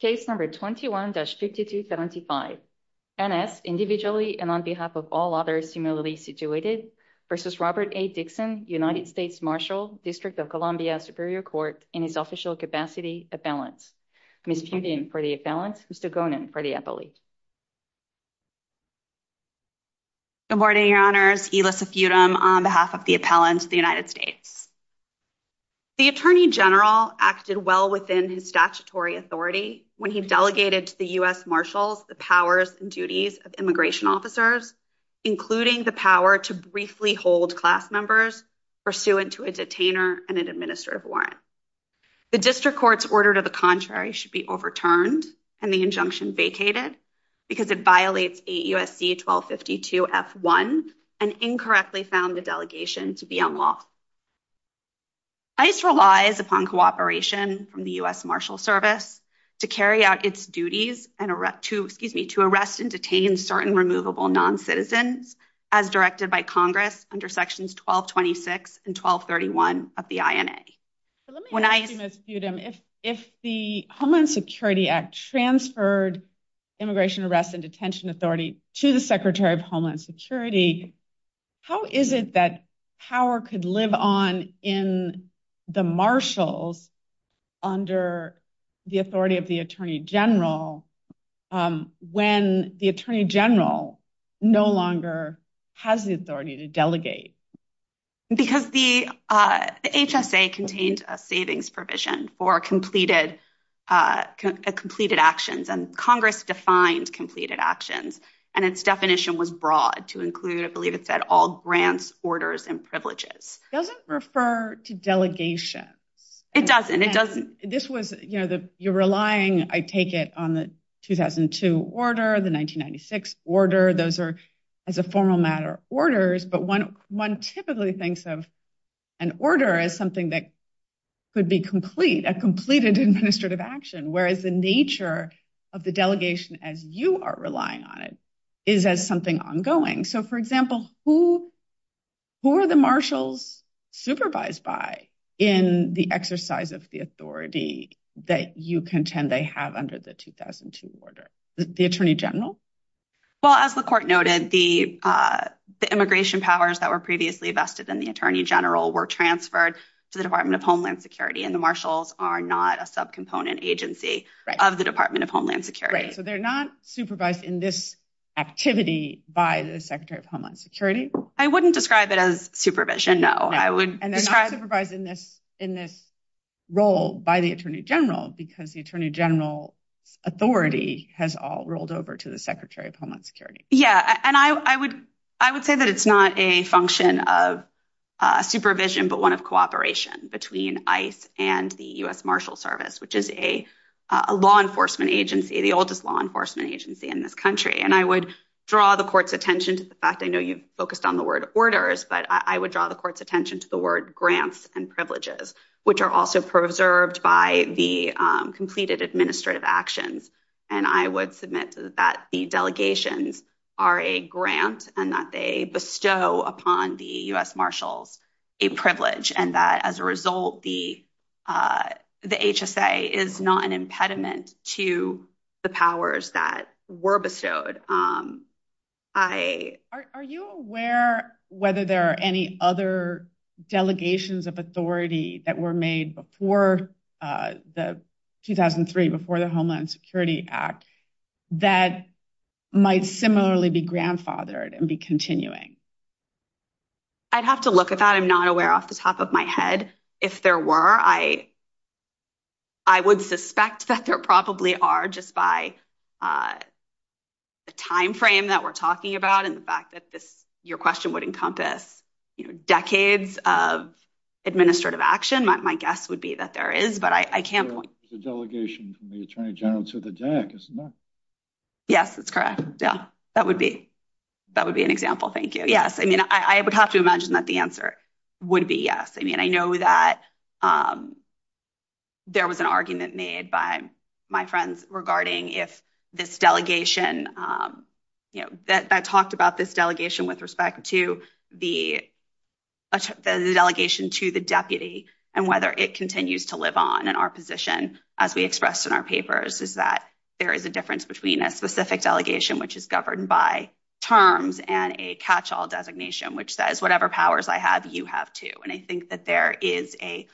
Case number 21-5275, N.S. individually and on behalf of all others similarly situated v. Robert A. Dixon, United States Marshal, District of Columbia Superior Court, in his official capacity, appellant. Ms. Feudum for the appellant, Mr. Gonen for the appellate. Good morning, your honors. Elissa Feudum on behalf of the appellant, the United States. The Attorney General acted well within his statutory authority when he delegated to the U.S. Marshals the powers and duties of immigration officers, including the power to briefly hold class members pursuant to a detainer and an administrative warrant. The district court's order to the contrary should be overturned and the injunction vacated because it violates USC-1252-F1 and incorrectly found the delegation to be unlawful. ICE relies upon cooperation from the U.S. Marshal Service to carry out its duties to arrest and detain certain removable noncitizens as directed by Congress under Sections 1226 and 1231 of the INA. Let me ask you, Ms. Feudum, if the Homeland Security Act transferred Immigration Arrest and Authority to the Secretary of Homeland Security, how is it that power could live on in the marshals under the authority of the Attorney General when the Attorney General no longer has the authority to delegate? Because the HSA contained a savings provision for completed actions and Congress defined completed actions and its definition was broad to include, I believe it said, all grants, orders, and privileges. It doesn't refer to delegations. It doesn't. You're relying, I take it, on the 2002 order, the 1996 order. Those are, as a formal matter, orders. But one typically thinks of an order as something that could be complete, a completed administrative action, whereas the nature of the delegation as you are relying on it is as something ongoing. So, for example, who are the marshals supervised by in the exercise of the authority that you contend they have under the 2002 order? The Attorney General? Well, as the Court noted, the immigration powers that were previously vested in the Attorney General were transferred to the Department of Homeland Security and the marshals are not a subcomponent agency of the Department of Homeland Security. So they're not supervised in this activity by the Secretary of Homeland Security? I wouldn't describe it as supervision, no. And they're not supervised in this role by the Attorney General because the Attorney General's authority has all rolled over to the Secretary of Homeland Security. Yeah, and I would say that it's not a function of supervision, but one of cooperation between ICE and the U.S. Marshals Service, which is a law enforcement agency, the oldest law enforcement agency in this country. And I would draw the Court's attention to the fact, I know you've focused on the word orders, but I would draw the Court's attention to the word grants and privileges, which are also preserved by the completed administrative actions. And I would submit to that the delegations are a grant and that they bestow upon the U.S. Marshals a privilege and that as a result, the HSA is not an impediment to the powers that were bestowed. Are you aware whether there are any other delegations of authority that were made before the 2003, before the Homeland Security Act that might similarly be grandfathered and be continuing? I'd have to look at that. I'm not aware off the top of my head. If there were, I would suspect that there probably are just by the time frame that we're talking about and the fact that this, your question would encompass, you know, decades of administrative action. My guess would be that there is, but I can't point. There's a delegation from the Attorney General to the Jack, isn't there? Yes, that's correct. Yeah, that would be an example. Thank you. Yes, I mean, I would have to imagine that the answer would be yes. I mean, I know that there was an argument made by my friends regarding if this delegation, you know, that I talked about this delegation with respect to the delegation to the deputy and whether it continues to live on in our position as we expressed in our papers is that there is a difference between a specific delegation which is governed by terms and a catch-all designation which says whatever powers I have, you have too. And I think that there is a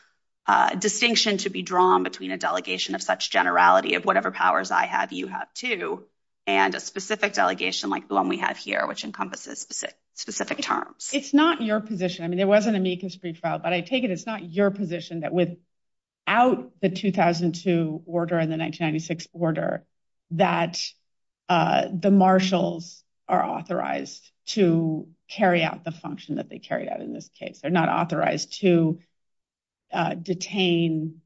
distinction to be drawn between a delegation of such generality of whatever powers I have, you have too, and a specific delegation like the one we have here which encompasses specific terms. It's not your position. I mean, there wasn't an amicus pretrial, but I take it it's not your position that without the 2002 order and the 1996 order that the marshals are authorized to carry out the function that they carried out in this case. They're not authorized to detain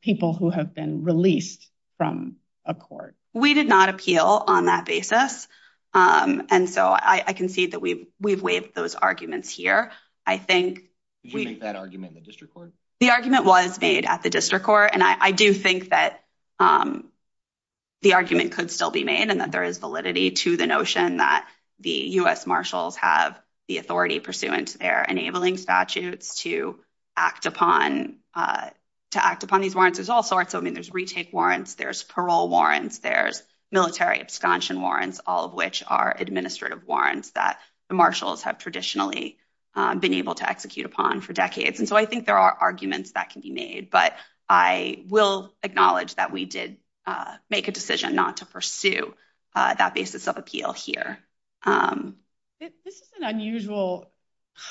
people who have been released from a court. We did not appeal on that basis. And so I can see that we've waived those arguments here. I think we Did you make that argument in the district court? The argument was made at the district court, and I do think that the argument could still be made and that there is validity to the notion that the U.S. marshals have the authority pursuant to their enabling statutes to act upon these warrants. There's all sorts. I mean, there's retake warrants, there's parole warrants, there's military absconsion warrants, all of which are administrative warrants that the marshals have traditionally been able to execute upon for decades. And so I think there are arguments that can be made, but I will acknowledge that we did make a decision not to pursue that basis of appeal here. This is an unusual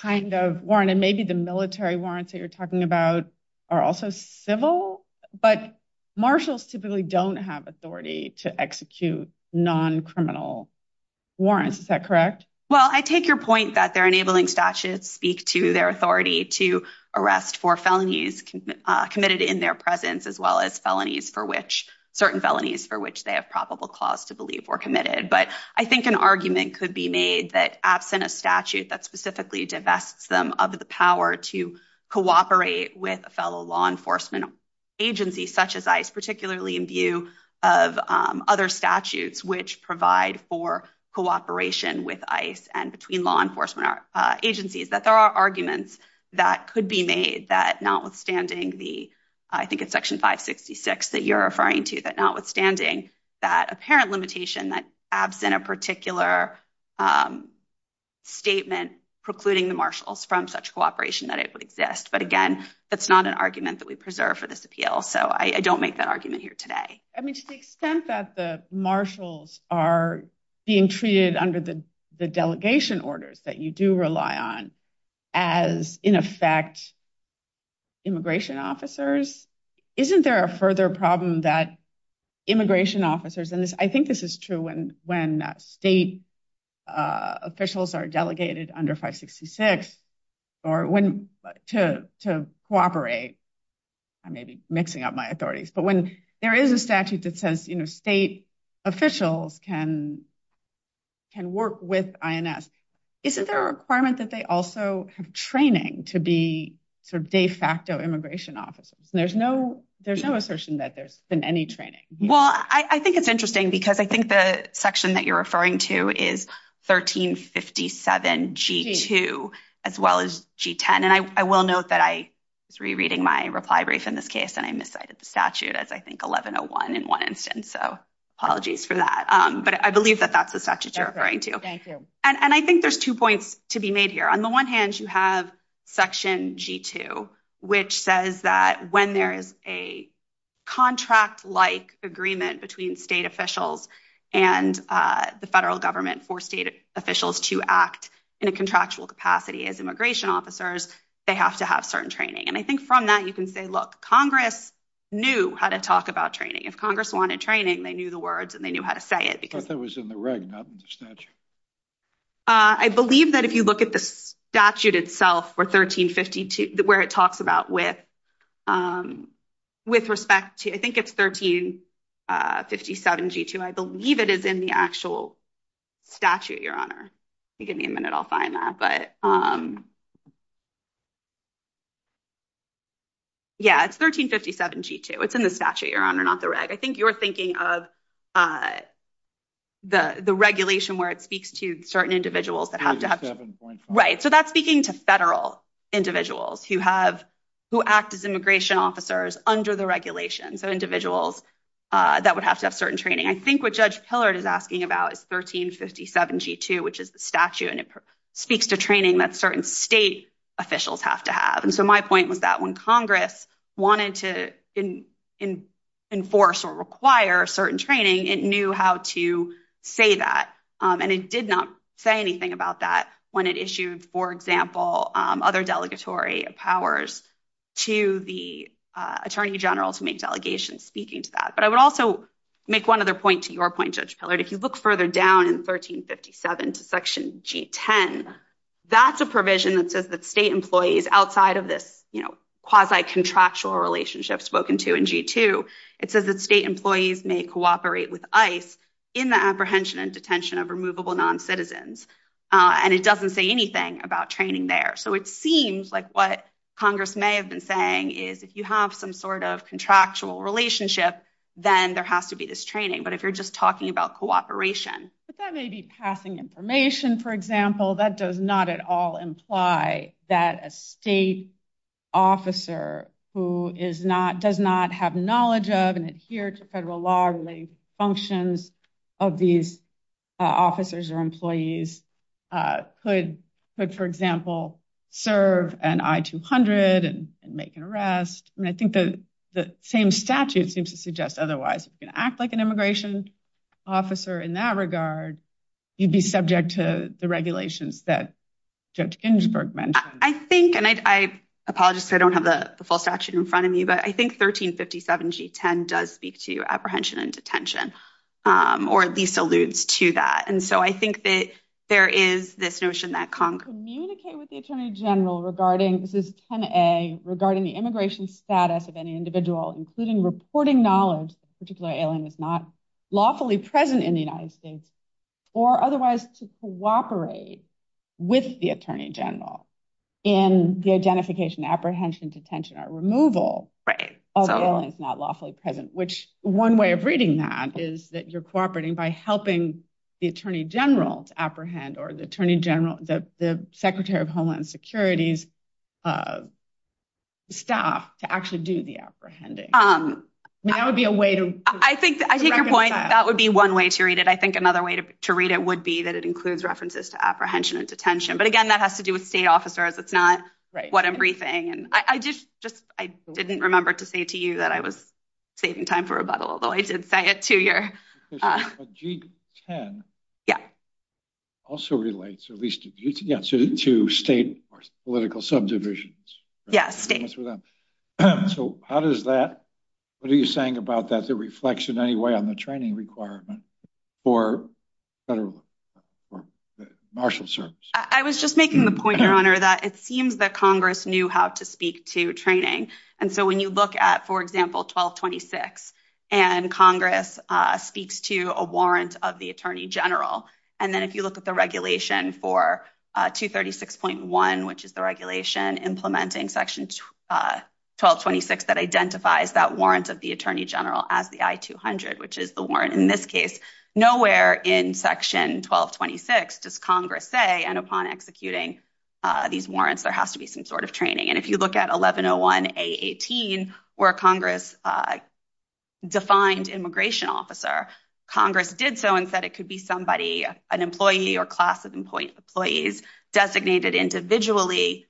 kind of warrant, and maybe the military warrants that you're talking about are also civil, but marshals typically don't have authority to execute non-criminal warrants. Is that correct? Well, I take your point that they're enabling statutes speak to their authority to arrest for felonies committed in their presence, as well as felonies for which certain felonies for which they have probable cause to believe were committed. But I think an argument could be made that absent a statute that specifically divests them of the power to cooperate with a fellow law enforcement agency such as ICE, particularly in view of other statutes which provide for cooperation with ICE and between law enforcement agencies, that there are arguments that could be made that notwithstanding the, I think it's section 566 that you're referring to, that notwithstanding that apparent limitation that a particular statement precluding the marshals from such cooperation that it would exist. But again, that's not an argument that we preserve for this appeal, so I don't make that argument here today. I mean, to the extent that the marshals are being treated under the delegation orders that you do rely on as, in effect, immigration officers, isn't there a further problem that immigration officers, and I think this is true when state officials are delegated under 566 or when to cooperate, I may be mixing up my authorities, but when there is a statute that says state officials can work with INS, isn't there a requirement that they also have training to be sort of de facto immigration officers? There's no assertion that there's been any training. Well, I think it's interesting because I think the section that you're referring to is 1357 G2 as well as G10, and I will note that I was rereading my reply brief in this case and I miscited the statute as I think 1101 in one instance, so apologies for that, but I believe that that's the statute you're referring to. Thank you. And I think there's two points to be made here. On the one hand, you have section G2, which says that when there is a contract-like agreement between state officials and the federal government for state officials to act in a contractual capacity as immigration officers, they have to have certain training. And I think from that, you can say, look, Congress knew how to talk about training. If Congress wanted training, they knew the words and they knew how to say it. I thought that was in the reg, not in the statute. I believe that if you look at the statute itself for 1352, where it talks about with respect to, I think it's 1357 G2, I believe it is in the actual statute, Your Honor. Give me a minute. I'll find that. But yeah, it's 1357 G2. It's in the statute, Your Honor, not the reg. I think you're thinking of the regulation where it speaks to certain individuals that have to have... Right. So that's speaking to federal individuals who act as immigration officers under the regulation. So individuals that would have to have certain training. I think what Judge Pillard is asking about is 1357 G2, which is the statute. And it speaks to training that certain state officials have to have. And so my point was that when Congress wanted to enforce or require certain training, it knew how to say that. And it did not say anything about that when it issued, for example, other delegatory powers to the attorney general to make delegations speaking to that. But I would also make one other point to your point, Judge Pillard. If you look further down in 1357 to section G10, that's a provision that says that outside of this quasi-contractual relationship spoken to in G2, it says that state employees may cooperate with ICE in the apprehension and detention of removable noncitizens. And it doesn't say anything about training there. So it seems like what Congress may have been saying is if you have some sort of contractual relationship, then there has to be this training. But if you're just talking about cooperation... But that may be passing information, for example. That does not at all imply that a state officer who does not have knowledge of and adhere to federal law-related functions of these officers or employees could, for example, serve an I-200 and make an arrest. And I think the same statute seems to suggest otherwise. If you're going to make an immigration officer in that regard, you'd be subject to the regulations that Judge Ginsburg mentioned. I think, and I apologize if I don't have the full statute in front of me, but I think 1357 G10 does speak to apprehension and detention, or at least alludes to that. And so I think that there is this notion that Congress... Communicate with the attorney general regarding, this is 10A, regarding the immigration status of any individual, including reporting knowledge that a particular alien is not lawfully present in the United States, or otherwise to cooperate with the attorney general in the identification, apprehension, detention, or removal of aliens not lawfully present, which one way of reading that is that you're cooperating by helping the attorney general to apprehend or the secretary of homeland security's staff to actually do the apprehending. I mean, that would be a way to- I think, I take your point, that would be one way to read it. I think another way to read it would be that it includes references to apprehension and detention. But again, that has to do with state officers. It's not what I'm briefing. And I just, I didn't remember to say to you that I was saving time for rebuttal, although I did say it to your- But G10 also relates, or at least, yeah, to state or political subdivisions. Yeah, state. So how does that, what are you saying about that, the reflection anyway on the training requirement for federal, for the marshal service? I was just making the point, your honor, that it seems that Congress knew how to speak to training. And so when you look at, for example, 1226, and Congress speaks to a warrant of the attorney general, and then if you look at the regulation for 236.1, which is the regulation implementing section 1226 that identifies that warrant of the attorney general as the I-200, which is the warrant in this case, nowhere in section 1226 does Congress say, and upon executing these warrants, there has to be some sort of training. And if you look at 1101A18, where Congress defined immigration officer, Congress did so and said it could be somebody, an employee or class of employees designated individually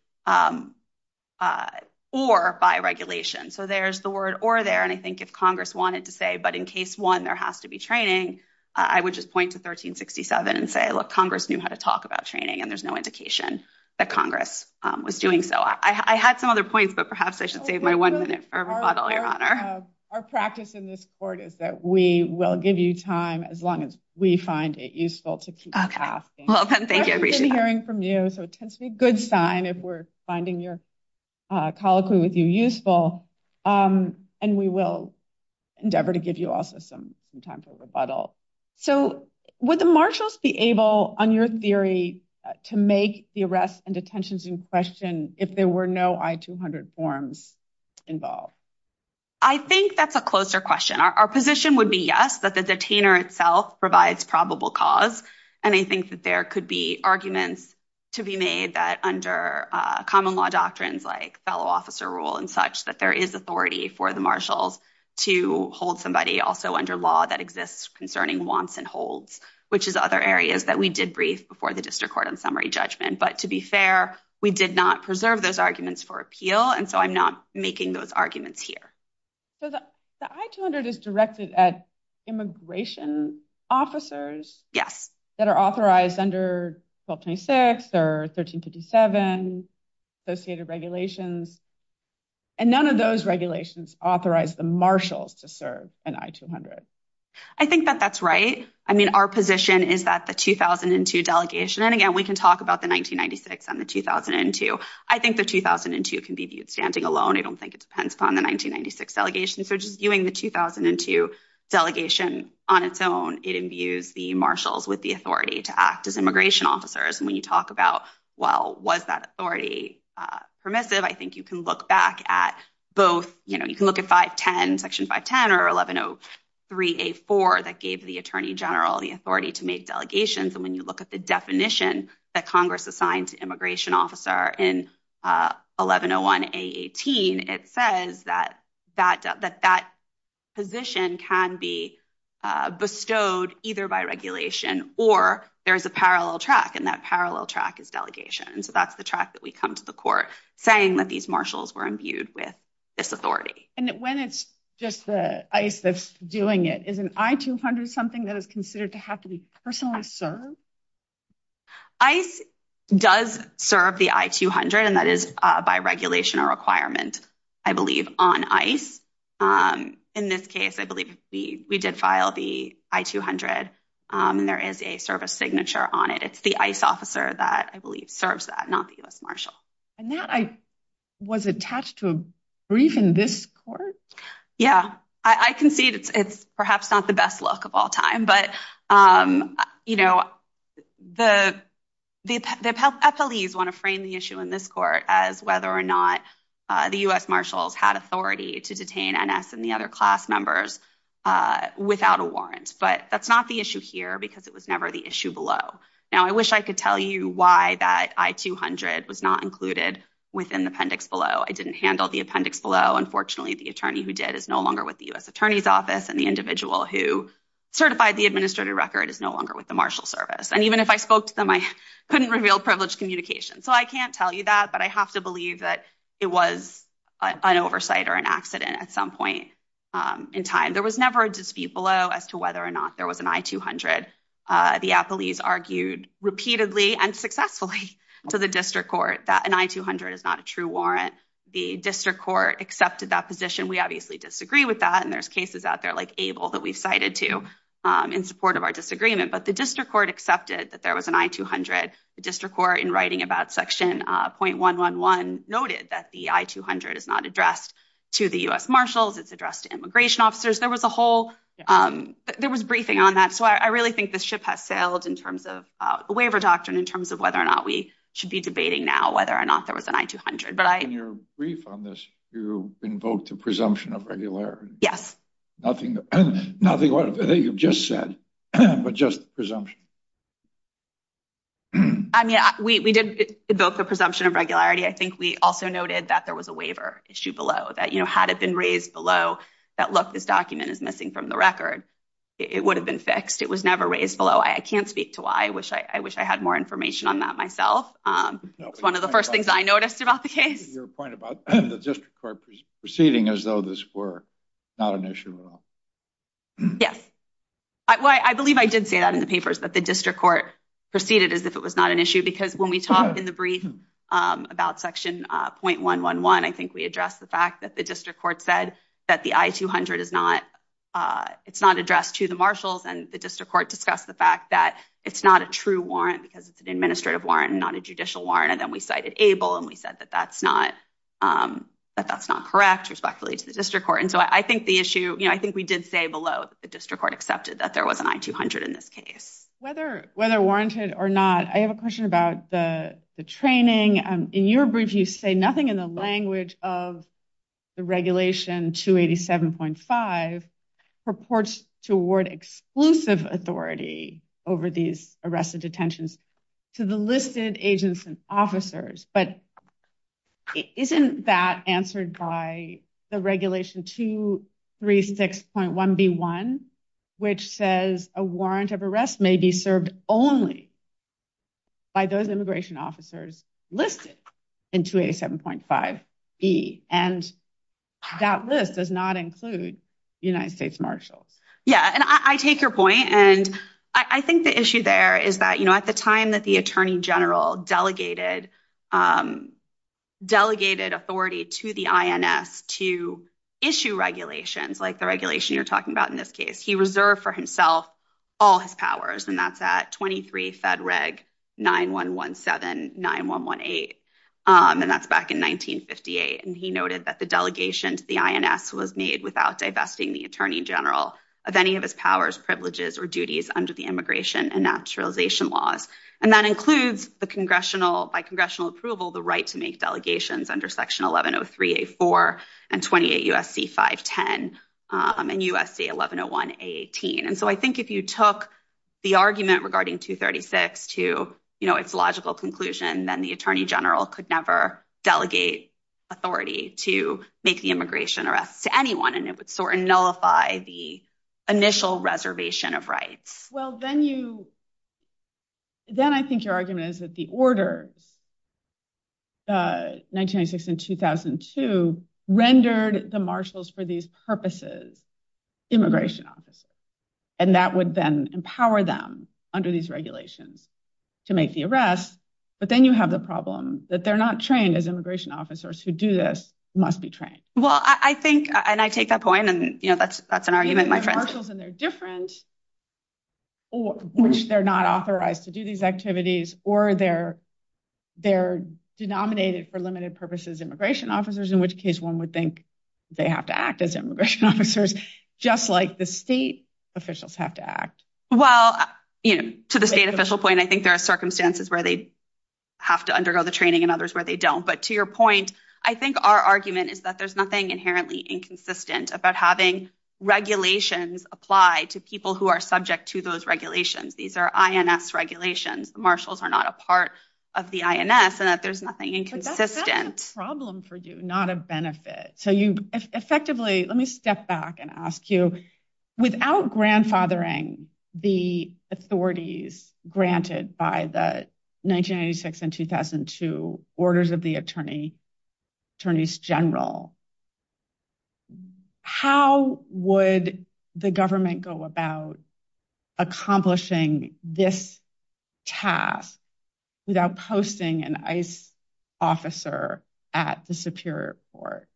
or by regulation. So there's the word or there. And I think if Congress wanted to say, but in case one, there has to be training, I would just point to 1367 and say, look, Congress knew how to talk about training, and there's no indication that Congress was doing so. I had some other points, but perhaps I should save my one minute for a rebuttal, your honor. Our practice in this court is that we will give you time as long as we find it useful to keep asking. We've been hearing from you, so it tends to be a good sign if we're finding your colloquy with you useful. And we will endeavor to give you also some time for rebuttal. So would the marshals be able, on your theory, to make the arrests and detentions in question if there were no I-200 forms involved? I think that's a closer question. Our position would be yes, that the detainer itself provides probable cause. And I think that there could be arguments to be made that under common law doctrines like fellow officer rule and such, there is authority for the marshals to hold somebody also under law that exists concerning wants and holds, which is other areas that we did brief before the district court on summary judgment. But to be fair, we did not preserve those arguments for appeal, and so I'm not making those arguments here. So the I-200 is directed at immigration officers that are authorized to serve an I-200. I think that that's right. I mean, our position is that the 2002 delegation, and again, we can talk about the 1996 and the 2002. I think the 2002 can be viewed standing alone. I don't think it depends upon the 1996 delegation. So just viewing the 2002 delegation on its own, it imbues the marshals with the authority to act as immigration officers. And when you talk about, well, was that authority permissive? I think you can look back at both. You can look at 510, Section 510 or 1103A4 that gave the attorney general the authority to make delegations. And when you look at the definition that Congress assigned to immigration officer in 1101A18, it says that that position can be bestowed either by regulation or there is a parallel track, and that parallel track is delegation. And so that's the track that we come to the court saying that these marshals were imbued with this authority. And when it's just the ICE that's doing it, is an I-200 something that is considered to have to be personally served? ICE does serve the I-200, and that is by regulation or requirement, I believe, on ICE. In this case, I believe we did file the I-200, and there is a service signature on it. It's the ICE officer that, I believe, serves that, not the U.S. Marshal. And that was attached to a brief in this court? Yeah. I concede it's perhaps not the best look of all time, but the PLEs want to frame the issue in this court as whether or not the U.S. Marshals had authority to detain NS and the other class members without a warrant. But that's not the issue here because it was never the issue below. Now, I wish I could tell you why that I-200 was not included within the appendix below. I didn't handle the appendix below. Unfortunately, the attorney who did is no longer with the U.S. Attorney's Office, and the individual who certified the administrative record is no longer with the Marshal Service. And even if I spoke to them, I couldn't reveal privileged communication. So I can't tell you that, but I have to believe that it was an oversight or an accident at some point in time. There was never a dispute below as to whether or not there was an I-200. The PLEs argued repeatedly and successfully to the district court that an I-200 is not a true warrant. The district court accepted that position. We obviously disagree with that, and there's cases out there like Abel that we've cited to in support of our disagreement. But the district court accepted that there was an I-200. The district court in writing about section 0.111 noted that the I-200 is not addressed to the U.S. Marshals. It's addressed to immigration officers. There was a whole, there was briefing on that. So I really think this ship has sailed in terms of a waiver doctrine in terms of whether or not we should be debating now whether or not there was an I-200. But I- In your brief on this, you invoked the presumption of regularity. Yes. Nothing you've just said, but just presumption. I mean, we did invoke the presumption of regularity. I think we also noted that there below, that had it been raised below that, look, this document is missing from the record, it would have been fixed. It was never raised below. I can't speak to why. I wish I had more information on that myself. It's one of the first things I noticed about the case. Your point about the district court proceeding as though this were not an issue at all. Yes. Well, I believe I did say that in the papers, that the district court proceeded as if it was not an issue because when we talk in the brief about section 0.111, I think we addressed the fact that the district court said that the I-200 is not, it's not addressed to the marshals. And the district court discussed the fact that it's not a true warrant because it's an administrative warrant and not a judicial warrant. And then we cited ABLE and we said that that's not correct respectfully to the district court. And so I think the issue, I think we did say below that the district court accepted that there was an I-200 in this case. Whether warranted or not, I have a question about the training. In your brief, you say nothing in the language of the regulation 287.5 purports to award exclusive authority over these arrested detentions to the listed agents and officers. But isn't that answered by the regulation 236.1B1, which says a warrant of may be served only by those immigration officers listed in 287.5B. And that list does not include United States marshals. Yeah. And I take your point. And I think the issue there is that at the time that the attorney general delegated authority to the INS to issue regulations, like the regulation you're talking about in this case, he reserved for himself all his powers. And that's at 23 Fed Reg 9117, 9118. And that's back in 1958. And he noted that the delegation to the INS was made without divesting the attorney general of any of his powers, privileges, or duties under the immigration and naturalization laws. And that includes by congressional approval, the right to make delegations under Section 1103A4 and 28 U.S.C. 510 and U.S.C. 1101A18. And so I think if you took the argument regarding 236 to its logical conclusion, then the attorney general could never delegate authority to make the immigration arrests to anyone. And it would nullify the initial reservation of rights. Well, then I think your argument is that the orders, 1996 and 2002, rendered the marshals for these purposes immigration officers. And that would then empower them under these regulations to make the arrests. But then you have the problem that they're not trained as immigration officers who do this, must be trained. Well, I think, and I take that point, and that's an argument. And they're different, which they're not authorized to do these activities or they're denominated for limited purposes immigration officers, in which case one would think they have to act as immigration officers, just like the state officials have to act. Well, to the state official point, I think there are circumstances where they have to undergo the training and others where they don't. But to your point, I think our argument is that there's nothing inherently inconsistent about having regulations apply to people who are subject to those regulations. These are INS regulations. Marshals are not a part of the INS and that there's nothing inconsistent. But that's a problem for you, not a benefit. So you effectively, let me step back and ask you, without grandfathering the authorities granted by the 1996 and 2002 orders of the attorney, attorneys general, how would the government go about accomplishing this task without posting an ICE officer at the Superior Court?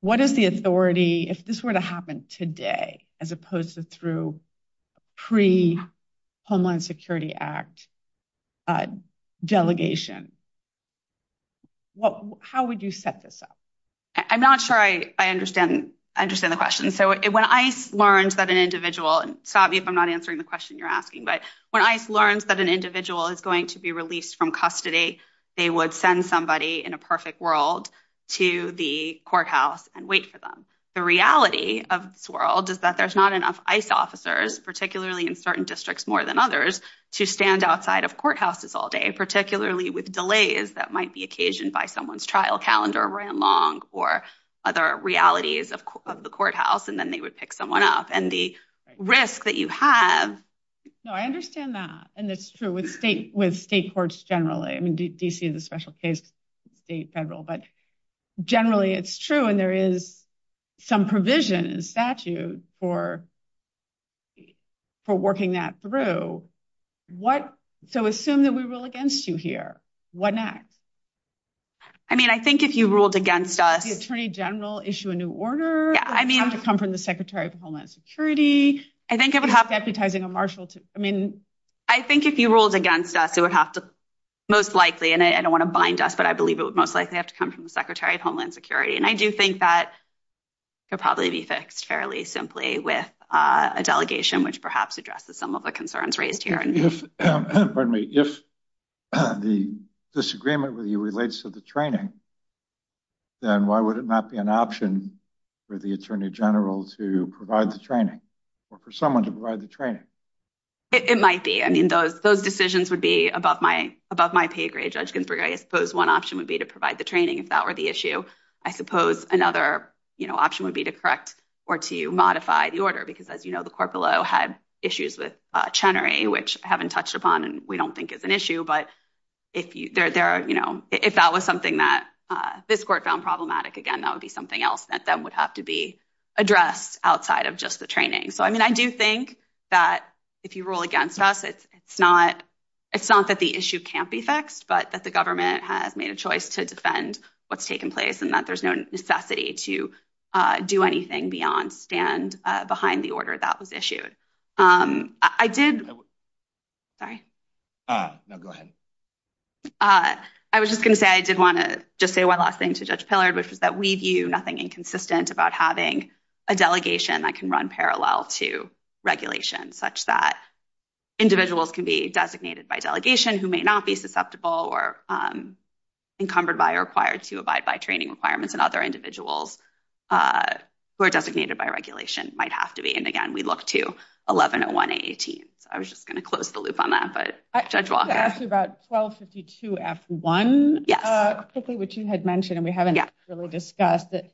What is the authority, if this were to happen today, as opposed to through pre Homeland Security Act delegation? How would you set this up? I'm not sure I understand the question. So when ICE learns that an individual, and stop me if I'm not answering the question you're asking, but when ICE learns that an individual is going to be released from custody, they would send somebody in a perfect world to the courthouse and wait for the reality of this world is that there's not enough ICE officers, particularly in certain districts more than others, to stand outside of courthouses all day, particularly with delays that might be occasioned by someone's trial calendar ran long or other realities of the courthouse. And then they would pick someone up and the risk that you have. No, I understand that. And it's true with state courts generally. I mean, DC is a special case, state, federal, but generally, it's true. And there is some provision in statute for working that through. So assume that we rule against you here, what next? I mean, I think if you ruled against us... The Attorney General issue a new order? Yeah, I mean... Would it have to come from the Secretary of Homeland Security? I think it would have... Deputizing a marshal to... I mean... If you ruled against us, it would have to... Most likely, and I don't want to bind us, but I believe it would most likely have to come from the Secretary of Homeland Security. And I do think that could probably be fixed fairly simply with a delegation which perhaps addresses some of the concerns raised here. Pardon me. If the disagreement with you relates to the training, then why would it not be an option for the Attorney General to provide the training or for someone to provide the training? It might be. I mean, those decisions would be above my pay grade, Judge Ginsburg. I suppose one option would be to provide the training if that were the issue. I suppose another option would be to correct or to modify the order. Because as you know, the court below had issues with Chenery, which I haven't touched upon and we don't think is an issue. But if that was something that this court found problematic, again, that would be something else that then would have to address outside of just the training. So, I mean, I do think that if you rule against us, it's not that the issue can't be fixed, but that the government has made a choice to defend what's taken place and that there's no necessity to do anything beyond stand behind the order that was issued. I did... Sorry. No, go ahead. I was just going to say, I did want to just say one last thing to Judge Pillard, which was that we view nothing inconsistent about having a delegation that can run parallel to regulation such that individuals can be designated by delegation who may not be susceptible or encumbered by or required to abide by training requirements and other individuals who are designated by regulation might have to be. And again, we look to 1101A18. So, I was just going to close the loop on that, but Judge Walker. I was going to ask you about 1252F1. Yes. Which you had mentioned and we haven't really discussed that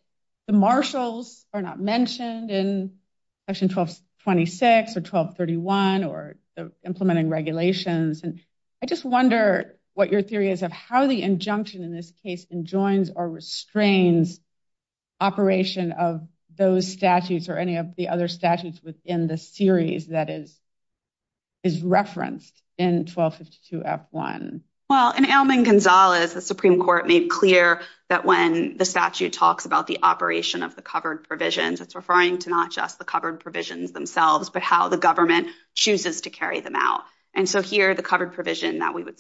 the marshals are not mentioned in section 1226 or 1231 or implementing regulations. And I just wonder what your theory is of how the injunction in this case enjoins or restrains operation of those statutes or any of the other statutes within the series that is referenced in 1252F1. Well, in Alman Gonzalez, the Supreme Court made clear that when the statute talks about the operation of the covered provisions, it's referring to not just the covered provisions themselves, but how the government chooses to carry them out. And so here, the covered provision that we would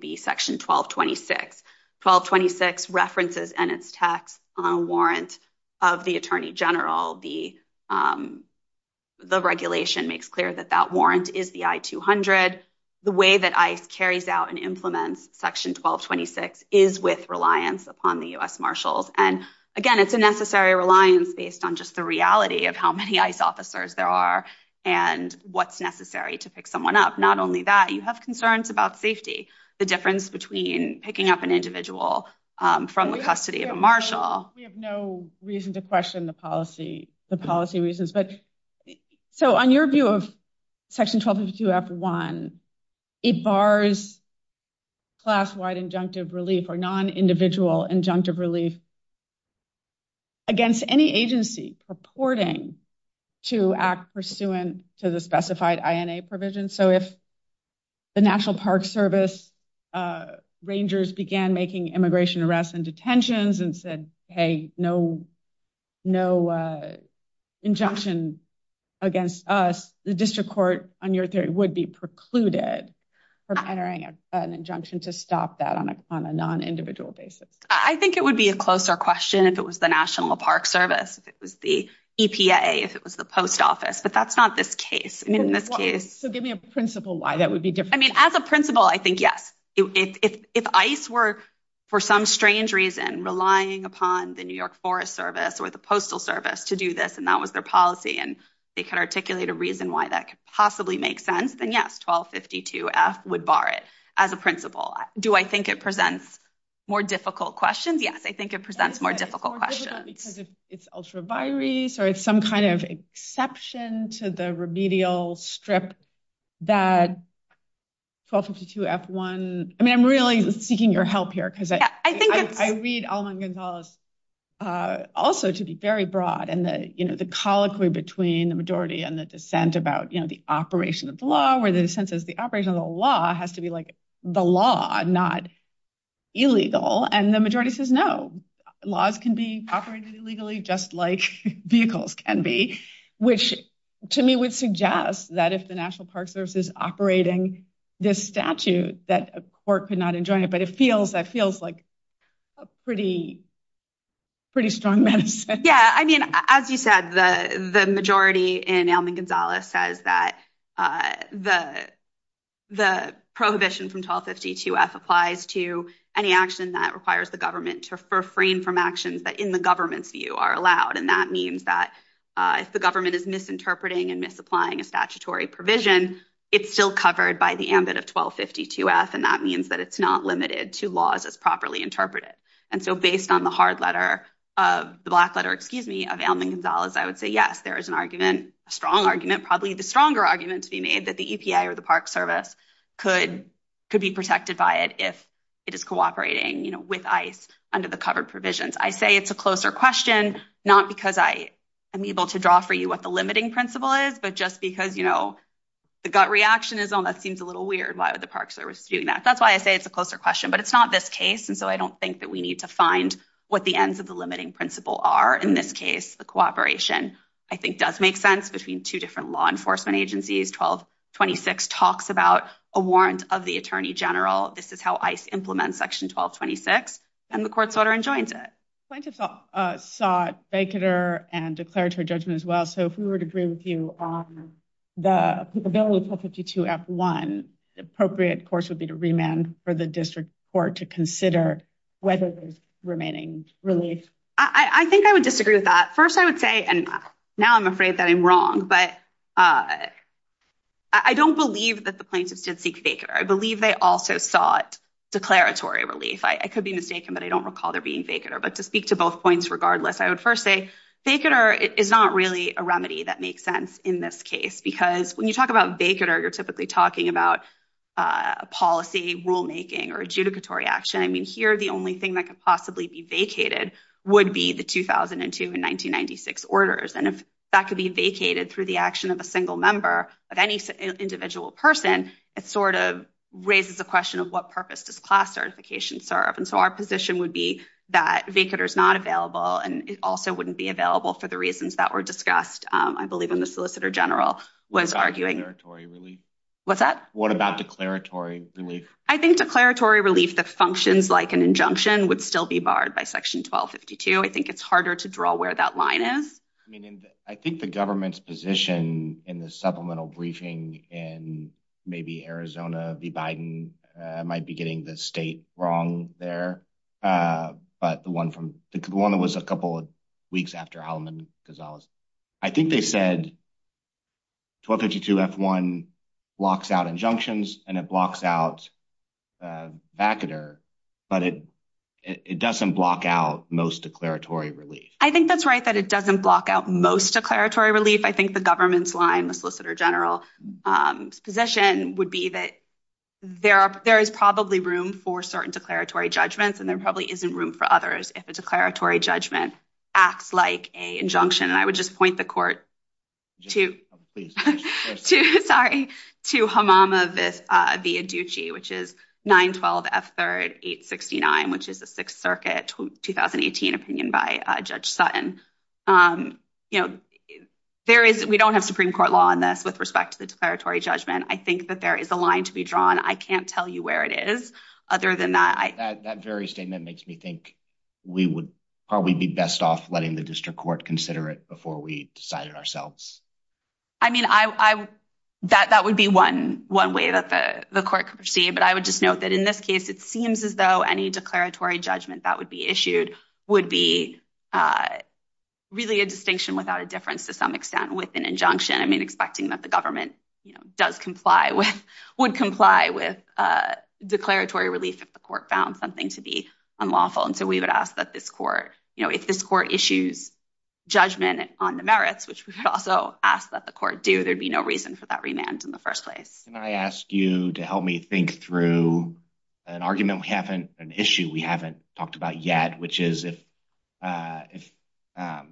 be section 1226. 1226 references and its text on a warrant of the attorney general. The regulation makes clear that that warrant is the I-200. The way that ICE carries out and implements section 1226 is with reliance upon the U.S. marshals. And again, it's a necessary reliance based on just the reality of how many ICE officers there are and what's necessary to someone up. Not only that, you have concerns about safety, the difference between picking up an individual from the custody of a marshal. We have no reason to question the policy reasons. So on your view of section 1252F1, it bars class-wide injunctive relief or non-individual injunctive relief against any agency purporting to act pursuant to the specified INA provision. So if the National Park Service rangers began making immigration arrests and detentions and said, hey, no injunction against us, the district court, on your theory, would be precluded from entering an injunction to stop that on a non-individual basis? I think it would be a closer question if it was the National Park Service, if it was the EPA, if it was the post office. But that's not this case. So give me a principle why that would be different. I mean, as a principle, I think yes. If ICE were, for some strange reason, relying upon the New York Forest Service or the Postal Service to do this, and that was their policy, and they could articulate a reason why that could possibly make sense, then yes, 1252F would bar it as a principle. Do I think it presents more difficult questions? Yes, I think it presents more difficult questions. It's more difficult because it's ultra-virus or it's some kind of exception to the remedial strip that 1252F1, I mean, I'm really seeking your help here because I read Alman Gonzalez also to be very broad, and the colloquy between the majority and the dissent about the operation of the law, where the dissent says the operation of the law has to be like the law, not illegal. And the majority says, no, laws can be operated illegally just like vehicles can be, which to me would suggest that if the National Park Service is operating this statute, that a court could not enjoin it. But that feels like a pretty strong medicine. Yeah, I mean, as you said, the majority in Alman Gonzalez says that the prohibition from 1252F applies to any action that requires the government to refrain from actions that in the government's view are allowed, and that means that if the government is misinterpreting and misapplying a statutory provision, it's still covered by the ambit of 1252F, and that means that it's not to laws as properly interpreted. And so based on the hard letter, the black letter, excuse me, of Alman Gonzalez, I would say, yes, there is an argument, a strong argument, probably the stronger argument to be made that the EPI or the Park Service could be protected by it if it is cooperating with ICE under the covered provisions. I say it's a closer question, not because I am able to draw for you what the limiting principle is, but just because the gut reaction is, oh, the Park Service is doing that. That's why I say it's a closer question, but it's not this case, and so I don't think that we need to find what the ends of the limiting principle are. In this case, the cooperation, I think, does make sense between two different law enforcement agencies. 1226 talks about a warrant of the Attorney General. This is how ICE implements Section 1226, and the court sought her and joins it. Plaintiffs sought, banked her, and declared her judgment as so if we were to agree with you on the bill of 1252 F1, the appropriate course would be to remand for the district court to consider whether there's remaining relief. I think I would disagree with that. First, I would say, and now I'm afraid that I'm wrong, but I don't believe that the plaintiffs did seek banked her. I believe they also sought declaratory relief. I could be mistaken, but I don't recall there being banked her, but to speak to both points regardless, I would first say banked her is not really a remedy that makes sense in this case, because when you talk about banked her, you're typically talking about a policy rulemaking or adjudicatory action. I mean, here, the only thing that could possibly be vacated would be the 2002 and 1996 orders, and if that could be vacated through the action of a single member of any individual person, it sort of raises a question of what purpose does class certification serve, and so our position would be that banked her is not available, and it also wouldn't be available for the reasons that were discussed, I believe, when the solicitor general was arguing. What's that? What about declaratory relief? I think declaratory relief that functions like an injunction would still be barred by section 1252. I think it's harder to draw where that line is. I mean, I think the government's position in the supplemental briefing in maybe Arizona v. Biden might be getting the wrong there, but the one that was a couple of weeks after Haldeman-Gonzalez, I think they said 1252 F-1 blocks out injunctions, and it blocks out vacated her, but it doesn't block out most declaratory relief. I think that's right that it doesn't block out most declaratory relief. I think the government's line, the solicitor general's position would be that there is probably room for certain declaratory judgments, and there probably isn't room for others if a declaratory judgment acts like an injunction, and I would just point the court to Hamama v. Aduchi, which is 912 F-3 869, which is a 6th Circuit 2018 opinion by Judge Sutton. We don't have Supreme Court law on this with respect to the declaratory judgment. I think that there is a line to be drawn. I can't tell you where it is other than that. That very statement makes me think we would probably be best off letting the district court consider it before we decide it ourselves. I mean, that would be one way that the court could proceed, but I would just note that in this case, it seems as though any declaratory judgment that would be issued would be really a distinction without a difference to some extent with an injunction. I mean, expecting that the government does comply with, would comply with declaratory relief if the court found something to be unlawful, and so we would ask that this court, you know, if this court issues judgment on the merits, which we could also ask that the court do, there'd be no reason for that remand in the first place. And I ask you to help me think through an argument we haven't, an issue we haven't talked about yet, which is if the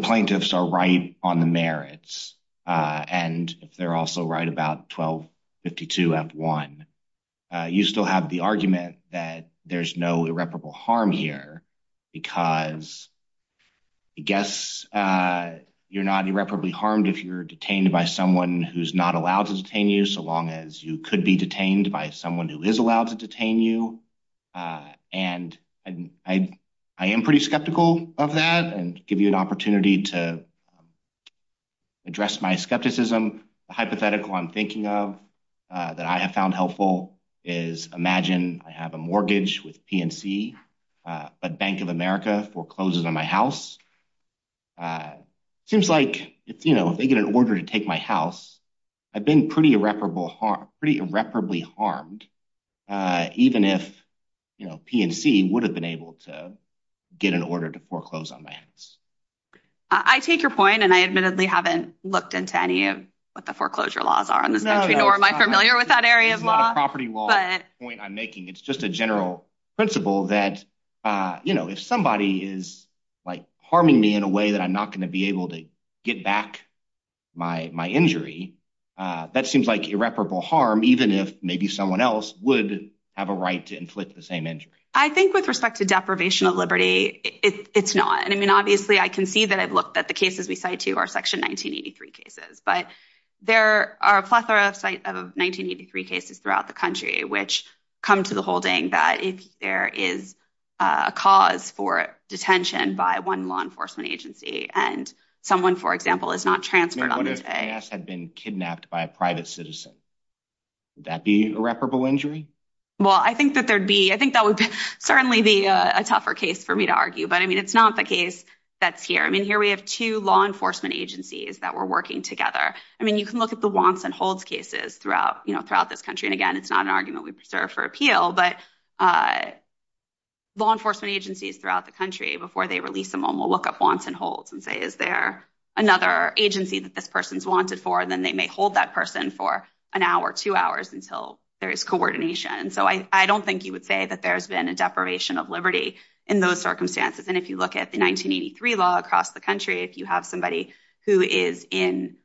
plaintiffs are right on the merits and if they're also right about 1252F1, you still have the argument that there's no irreparable harm here because I guess you're not irreparably harmed if you're detained by someone who's not allowed to detain you so long as you could be detained by someone who is allowed to detain you, and I am pretty skeptical of that and give you an opportunity to address my skepticism. The hypothetical I'm thinking of that I have found helpful is, imagine I have a mortgage with PNC, but Bank of America forecloses on my house. Seems like if, you know, if they get an order to take my house, I've been pretty irreparably harmed, even if, you know, PNC would have been able to get an order to foreclose on my house. I take your point, and I admittedly haven't looked into any of what the foreclosure laws are in this country, nor am I familiar with that area of law. It's not a property law point I'm making. It's just a general principle that, you know, if somebody is, like, harming me in a way that I'm not going to be able to get back my injury, that seems like irreparable harm, even if maybe someone else would have a right to inflict the same injury. I think with respect to deprivation of liberty, it's not. And, I mean, obviously, I can see that I've looked at the cases we cite, too, our Section 1983 cases, but there are a plethora of 1983 cases throughout the country which come to the holding that if there is a cause for detention by one law enforcement agency and someone, for example, is not transferred on the day. If someone had been kidnapped by a private citizen, would that be irreparable injury? Well, I think that there'd be, I think that would certainly be a tougher case for me to argue, but, I mean, it's not the case that's here. I mean, here we have two law enforcement agencies that were working together. I mean, you can look at the wants and holds cases throughout, you know, throughout this country. And, again, it's not an argument we preserve for appeal, but law enforcement agencies throughout the country, before they release someone, will look up wants and holds and say, is there another agency that this person's wanted for? And then they may hold that person for an hour, two hours, until there is coordination. And so I don't think you would say that there's been a deprivation of liberty in those circumstances. And if you look at the 1983 law across the country, if you have somebody who is in,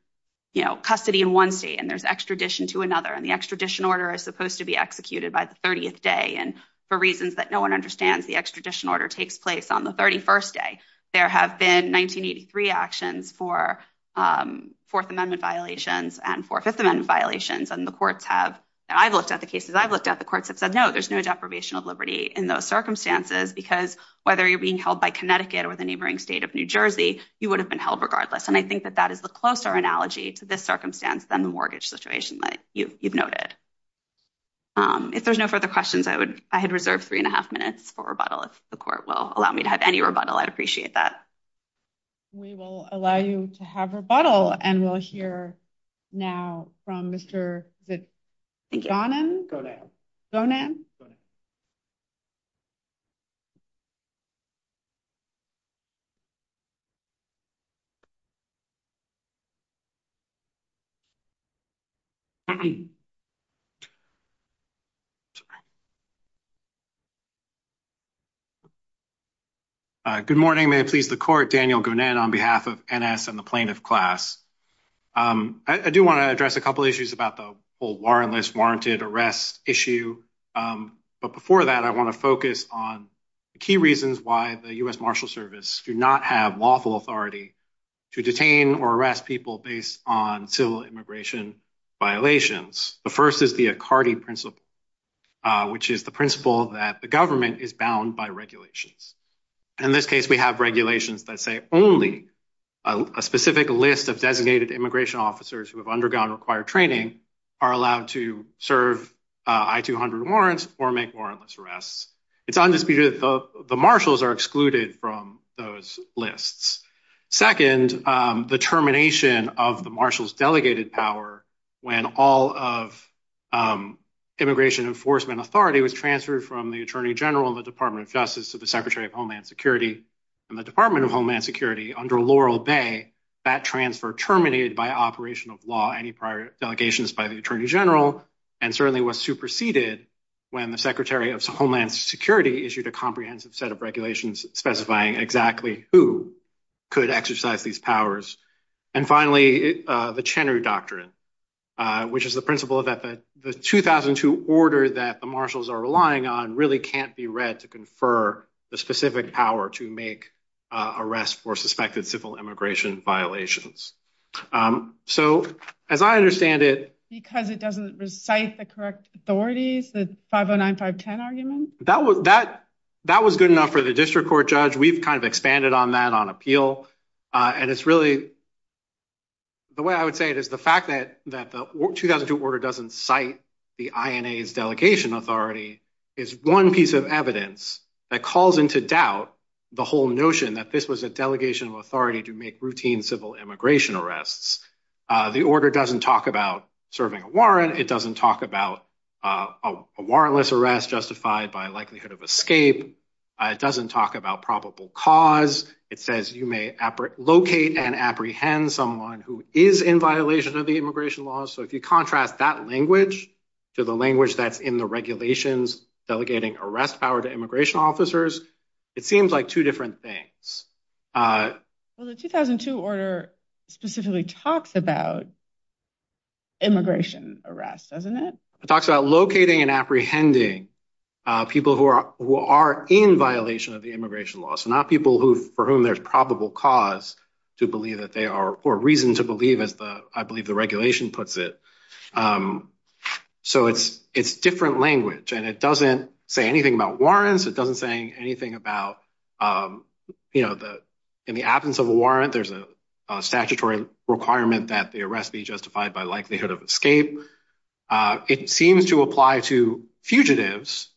you know, custody in one state and there's extradition to another, and the extradition order is supposed to be executed by the 30th day, and for reasons that no one understands, the extradition order takes place on the 31st day. There have been 1983 actions for Fourth Amendment violations and for Fifth Amendment violations, and the courts have, I've looked at the cases, I've looked at the courts, have said, no, there's no deprivation of liberty in those circumstances, because whether you're being held by Connecticut or the neighboring state of New Jersey, you would have been held regardless. And I think that that is the closer analogy to this circumstance than the mortgage situation that you've noted. If there's no further questions, I would, I had reserved three and a half minutes for rebuttal, if the court will allow me to have any rebuttal, I'd appreciate that. We will allow you to have rebuttal, and we'll hear now from Mr. Jonan. Jonan? Good morning, may it please the court, Daniel Gounan on behalf of NS and the plaintiff class. I do want to address a couple issues about the full warrantless warranted arrest issue. But before that, I want to focus on the key reasons why the U.S. Marshal Service do not have lawful authority to detain or arrest people based on civil immigration violations. The first is the Accardi principle, which is the principle that the government is bound by regulations. In this case, we have regulations that say only a specific list of designated immigration officers who have undergone required training are allowed to serve I-200 warrants or make warrantless arrests. It's undisputed that the marshals are excluded from those lists. Second, the termination of the marshal's delegated power when all of immigration enforcement authority was transferred from the Attorney General of the Department of Justice to the Secretary of Homeland Security and the Department of Homeland Security under Laurel Bay. That transfer terminated by operation of law any prior delegations by the Attorney General and certainly was superseded when the Secretary of Homeland Security issued a comprehensive set of regulations specifying exactly who could exercise these powers. And finally, the Chenner doctrine, which is the principle that the 2002 order that the marshals are relying on really can't be read to confer the specific power to make arrests for suspected civil immigration violations. So as I understand it... Because it doesn't recite the correct authorities, the 509-510 argument? That was good enough for the district court judge. We've kind of expanded on that on appeal. And it's really... The way I would say it is the fact that the 2002 order doesn't cite the INA's delegation authority is one piece of evidence that calls into doubt the whole notion that this was a delegation of authority to make routine civil immigration arrests. The order doesn't talk about serving a warrant. It doesn't talk about a warrantless arrest justified by likelihood of escape. It doesn't talk about probable cause. It says you may locate and apprehend someone who is in violation of the immigration laws. So if you contrast that language to the language that's in the regulations delegating arrest power to immigration officers, it seems like two different things. Well, the 2002 order specifically talks about immigration arrests, doesn't it? It talks about locating and apprehending people who are in violation of the immigration laws. So not people for whom there's probable cause to believe that they are... Or reason to believe, as I believe the regulation puts it. So it's different language. And it doesn't say anything about warrants. It doesn't say anything about in the absence of a warrant, there's a statutory requirement that the arrest be justified by likelihood of escape. It seems to apply to fugitives,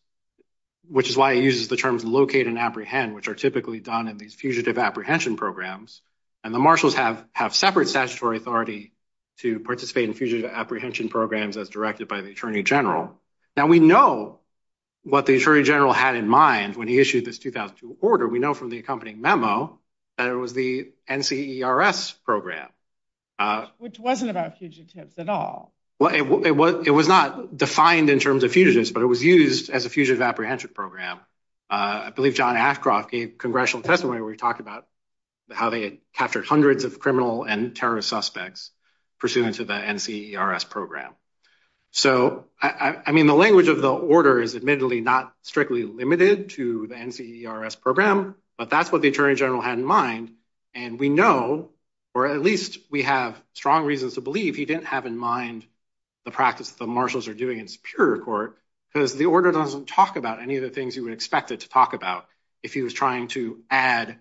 which is why it uses the terms locate and apprehend, which are typically done in these fugitive apprehension programs. And the marshals have separate statutory authority to participate in fugitive apprehension programs as directed by the attorney general. Now we know what the attorney general had in mind when he issued this 2002 order. We know from the accompanying memo that it was the NCERS program. Which wasn't about fugitives at all. Well, it was not defined in terms of fugitives, but it was used as a fugitive apprehension program. I believe John Ashcroft gave congressional testimony where he talked about how they had captured hundreds of criminal and terrorist suspects pursuant to the NCERS program. So, I mean, the language of the order is admittedly strictly limited to the NCERS program, but that's what the attorney general had in mind. And we know, or at least we have strong reasons to believe he didn't have in mind the practice the marshals are doing in Superior Court. Because the order doesn't talk about any of the things you would expect it to talk about. If he was trying to amend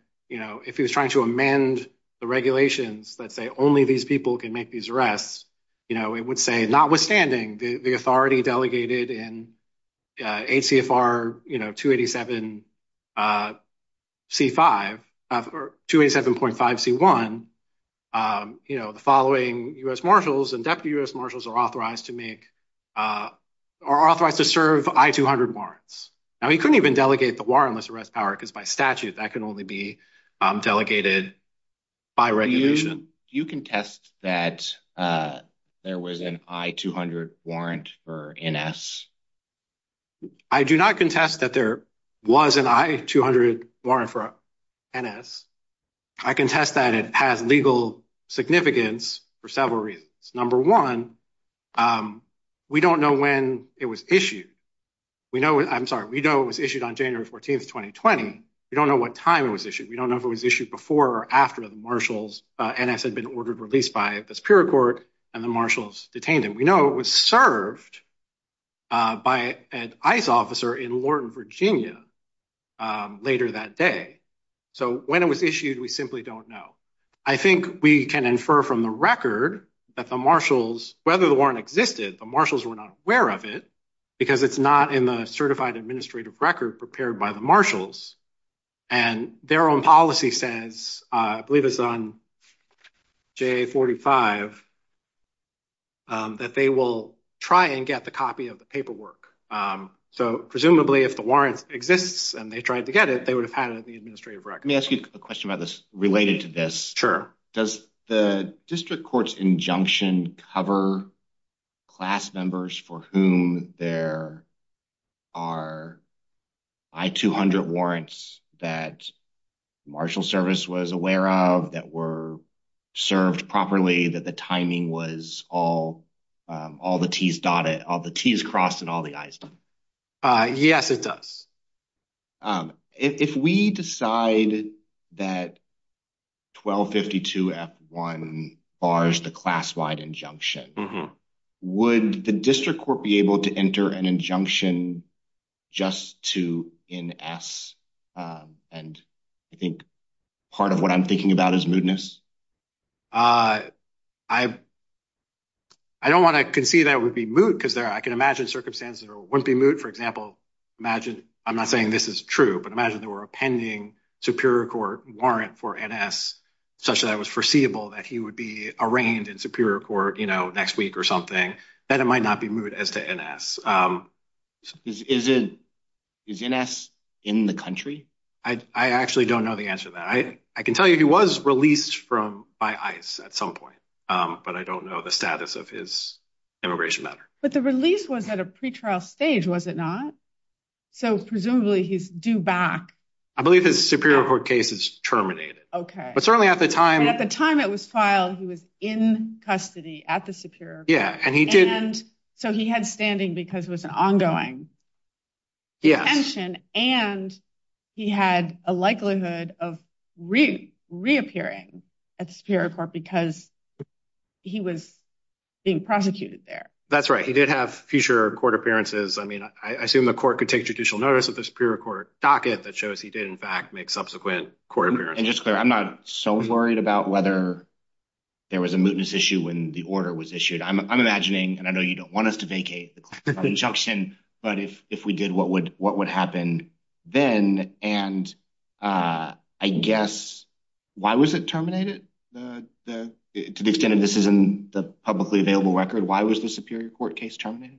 the regulations that say only these people can make these arrests, it would say notwithstanding the authority delegated in 8 CFR 287.5 C1, the following U.S. Marshals and Deputy U.S. Marshals are authorized to make, are authorized to serve I-200 warrants. Now, he couldn't even delegate the warrantless arrest power because by statute that can only be delegated by regulation. You can test that there was an I-200 warrant for NS. I do not contest that there was an I-200 warrant for NS. I contest that it has legal significance for several reasons. Number one, we don't know when it was issued. We know, I'm sorry, we know it was issued on January 14, 2020. We don't know what time it was issued. We don't know if it was issued before or after the marshals NS had been ordered released by the Superior Court and the marshals detained him. We know it was served by an ICE officer in Lorton, Virginia, later that day. So when it was issued, we simply don't know. I think we can infer from the record that the marshals, whether the warrant existed, the marshals were not aware of it because it's not in the certified administrative record prepared by the marshals and their own policy says, I believe it's on JA-45, that they will try and get the copy of the paperwork. So presumably if the warrant exists and they tried to get it, they would have had it in the administrative record. Let me ask you a question about this related to this. Sure. Does the district court's injunction cover class members for whom there are I-200 warrants that marshal service was aware of, that were served properly, that the timing was all the T's dotted, all the T's crossed and all the I's done? Yes, it does. If we decide that 1252 F-1 bars the class-wide injunction, would the district court be able to enter an injunction just to NS? And I think part of what I'm thinking about is mootness. I don't want to concede that it would be moot because I can imagine circumstances that wouldn't be moot. For example, imagine, I'm not saying this is true, but imagine there were a pending superior court warrant for NS such that it was foreseeable that he would be arraigned in superior court next week or something, that it might not be moot as to NS. Is NS in the country? I actually don't know the answer to that. I can tell you he was released by ICE at some point, but I don't know the status of his immigration matter. But the release was at a pretrial stage, was it not? So presumably he's due back. I believe his superior court case is terminated. Okay. But certainly at the time... At the time it was filed, he was in custody at the superior court. And so he had standing because it was an ongoing detention and he had a likelihood of reappearing at the superior court because he was being prosecuted there. That's right. He did have future court appearances. I mean, I assume the court could take judicial notice of the superior court docket that shows he did, in fact, make subsequent court appearances. And just to be clear, I'm not so worried about whether there was a mootness issue when the order was issued. I'm imagining, and I know you don't want us to vacate the conjunction, but if we did, what would happen then? And I guess, why was it terminated? To the extent that this isn't the publicly available record, why was the superior court case terminated?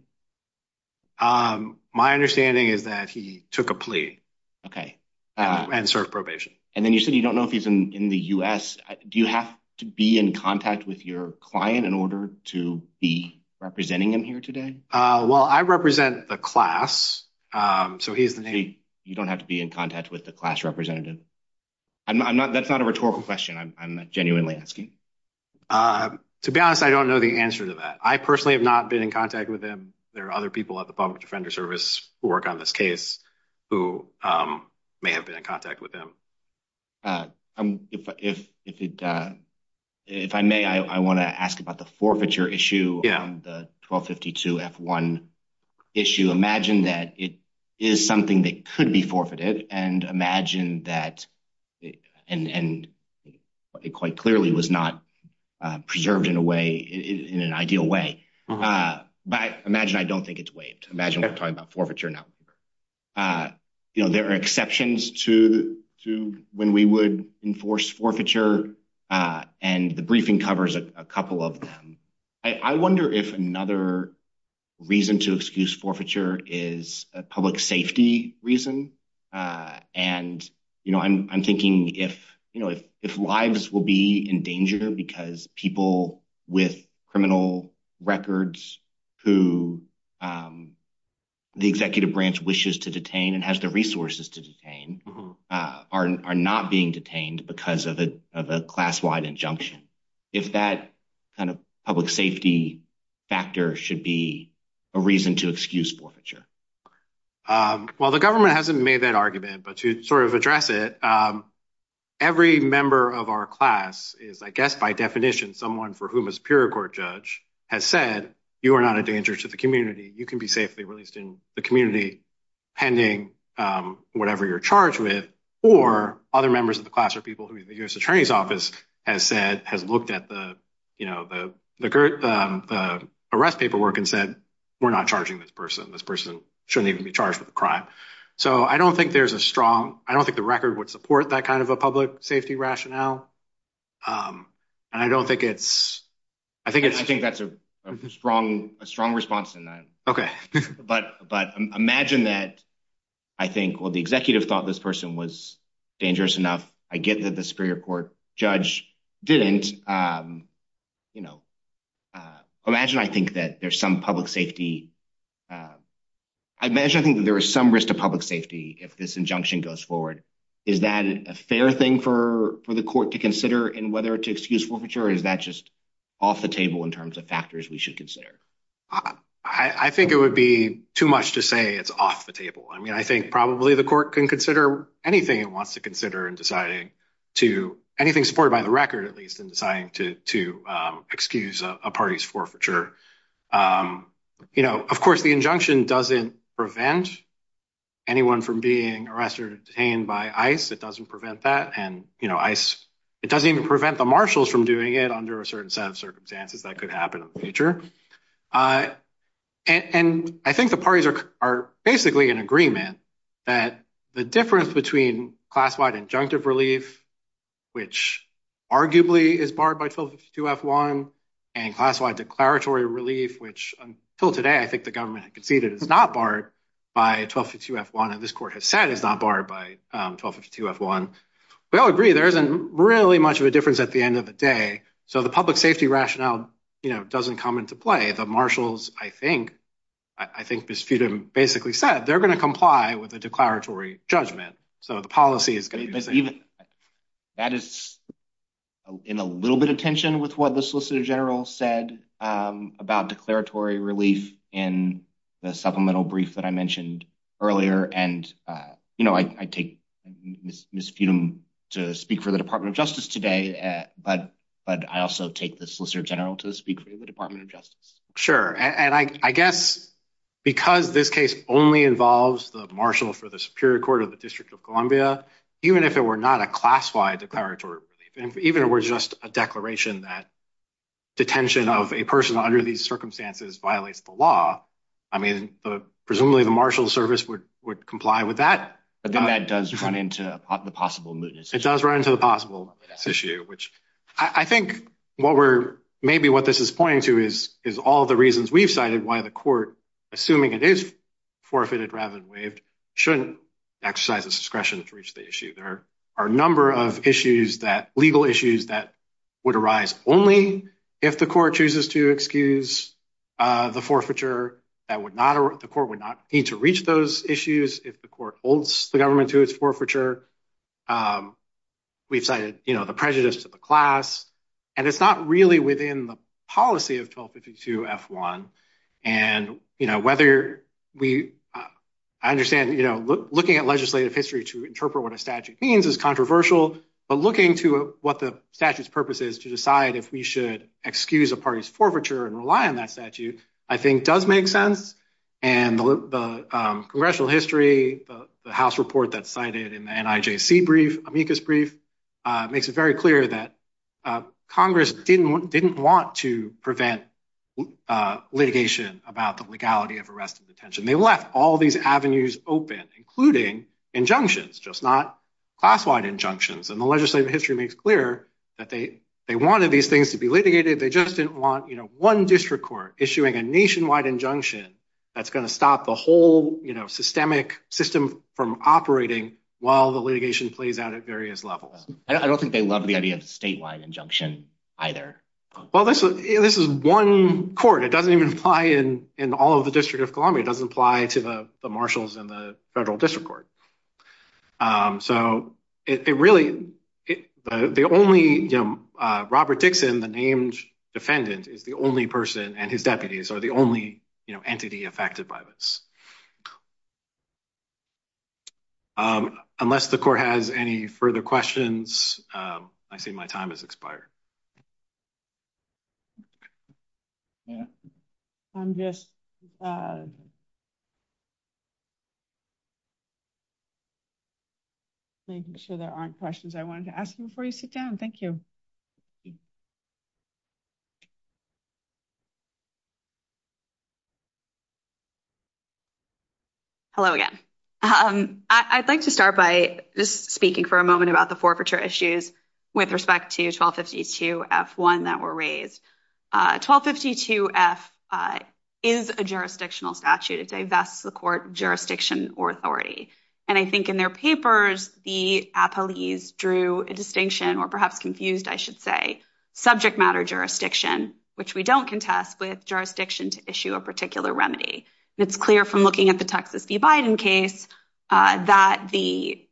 My understanding is that he took a plea. Okay. And served probation. And then you said you don't know if he's in the US. Do you have to be in contact with your client in order to be representing him here today? Well, I represent the class. So he's the name. You don't have to be in contact with the class representative? That's not a rhetorical question. I'm genuinely asking. To be honest, I don't know the answer to that. I personally have not been in contact with him. There are other people at the Public Defender Service who work on this case who may have been in contact with him. If I may, I want to ask about the forfeiture issue on the 1252 F1 issue. Imagine that it is something that could be forfeited and imagine that, and it quite clearly was not preserved in a way, in an ideal way. But imagine I don't think it's waived. Imagine we're talking forfeiture now. There are exceptions to when we would enforce forfeiture. And the briefing covers a couple of them. I wonder if another reason to excuse forfeiture is a public safety reason. And I'm thinking if lives will be in danger because people with criminal records who the executive branch wishes to detain and has the resources to detain are not being detained because of a class-wide injunction. If that kind of public safety factor should be a reason to excuse forfeiture. Well, the government hasn't made that argument, but to sort of address it, every member of our class is, I guess, by definition, someone for whom a Superior Court judge has said, you are not a danger to the community. You can be safely released in the community pending whatever you're charged with. Or other members of the class or people who the U.S. Attorney's Office has said, has looked at the arrest paperwork and said, we're not charging this person. This person shouldn't even be charged with a crime. So I don't think there's a strong, I don't think the record would support that kind of a public safety rationale. Um, and I don't think it's, I think it's, I think that's a strong, a strong response to that. Okay. But, but imagine that I think, well, the executive thought this person was dangerous enough. I get that the Superior Court judge didn't, um, you know, uh, imagine, I think that there's some public safety, uh, I imagine, I think that there is some risk to public safety if this injunction goes forward. Is that a fair thing for, for the court to consider in whether to excuse forfeiture? Or is that just off the table in terms of factors we should consider? I think it would be too much to say it's off the table. I mean, I think probably the court can consider anything it wants to consider in deciding to, anything supported by the record, at least in deciding to, to, um, excuse a party's forfeiture. Um, you know, of course the injunction doesn't prevent anyone from being arrested or detained by ICE. It doesn't prevent that. And, you know, ICE, it doesn't even prevent the marshals from doing it under a certain set of circumstances that could happen in the future. Uh, and, and I think the parties are, are basically in agreement that the difference between class-wide injunctive relief, which arguably is barred by 1252 F1 and class-wide declaratory relief, which until today, I think the government had conceded is not barred by 1252 F1. And this court has said is not barred by, um, 1252 F1. We all agree there isn't really much of a difference at the end of the day. So the public safety rationale, you know, doesn't come into play. The marshals, I think, I think Ms. Feudham basically said, they're going to comply with the declaratory judgment. So the policy is going to be the same. That is in a little bit of tension with what the solicitor general said, um, about declaratory relief in the supplemental brief that I mentioned earlier. And, uh, you know, I, I take Ms. Feudham to speak for the Department of Justice today, uh, but, but I also take the solicitor general to speak for the Department of Justice. Sure. And I, I guess because this case only involves the marshal for the Superior Court of the District of Columbia, even if it were not a class-wide declaratory relief, even if it were just a declaration that detention of a person under these circumstances violates the law, I mean, the, presumably the marshal service would, would comply with that. But then that does run into the possible mootness. It does run into the possible mootness issue, which I think what we're, maybe what this is pointing to is, is all the reasons we've cited why the court, assuming it is forfeited rather than waived, shouldn't exercise its discretion to reach the issue. There are a number of issues that, legal issues that would arise only if the court chooses to excuse, uh, the forfeiture that would not, the court would not need to reach those issues if the court holds the government to its forfeiture. Um, we've cited, you know, the prejudice to the class, and it's not really within the policy of 1252 F1. And, you know, whether we, I understand, you know, looking at legislative history to interpret what a statute means is controversial, but looking to what the statute's purpose is to decide if we should excuse a party's forfeiture and rely on that statute, I think does make sense. And the, um, congressional history, the house report that's cited in the NIJC brief, amicus brief, uh, makes it very clear that, uh, Congress didn't, didn't want to prevent, uh, litigation about the legality of arrest and detention. They left all these avenues open, including injunctions, just not class-wide injunctions. And the legislative history makes clear that they, they wanted these things to be litigated. They just didn't want, you know, one district court issuing a nationwide injunction that's going to stop the whole, you know, systemic system from operating while the litigation plays out at various levels. I don't think they love the idea of statewide injunction either. Well, this, this is one court. It doesn't even apply in, in all of the district of Columbia. It doesn't apply to the marshals and the federal district court. Um, so it, it really, the only, you know, uh, Robert Dixon, the named defendant is the only person and his deputies are the only entity affected by this. Um, unless the court has any further questions, um, I see my time has expired. I'm just, uh, making sure there aren't questions I wanted to ask you before you sit down. Thank you. Hello again. Um, I I'd like to start by just speaking for a moment about the 1252 F1 that were raised. Uh, 1252 F is a jurisdictional statute. It divests the court jurisdiction or authority. And I think in their papers, the appellees drew a distinction or perhaps confused, I should say subject matter jurisdiction, which we don't contest with jurisdiction to issue a particular remedy. And it's clear from looking at the Texas v. Biden case, that the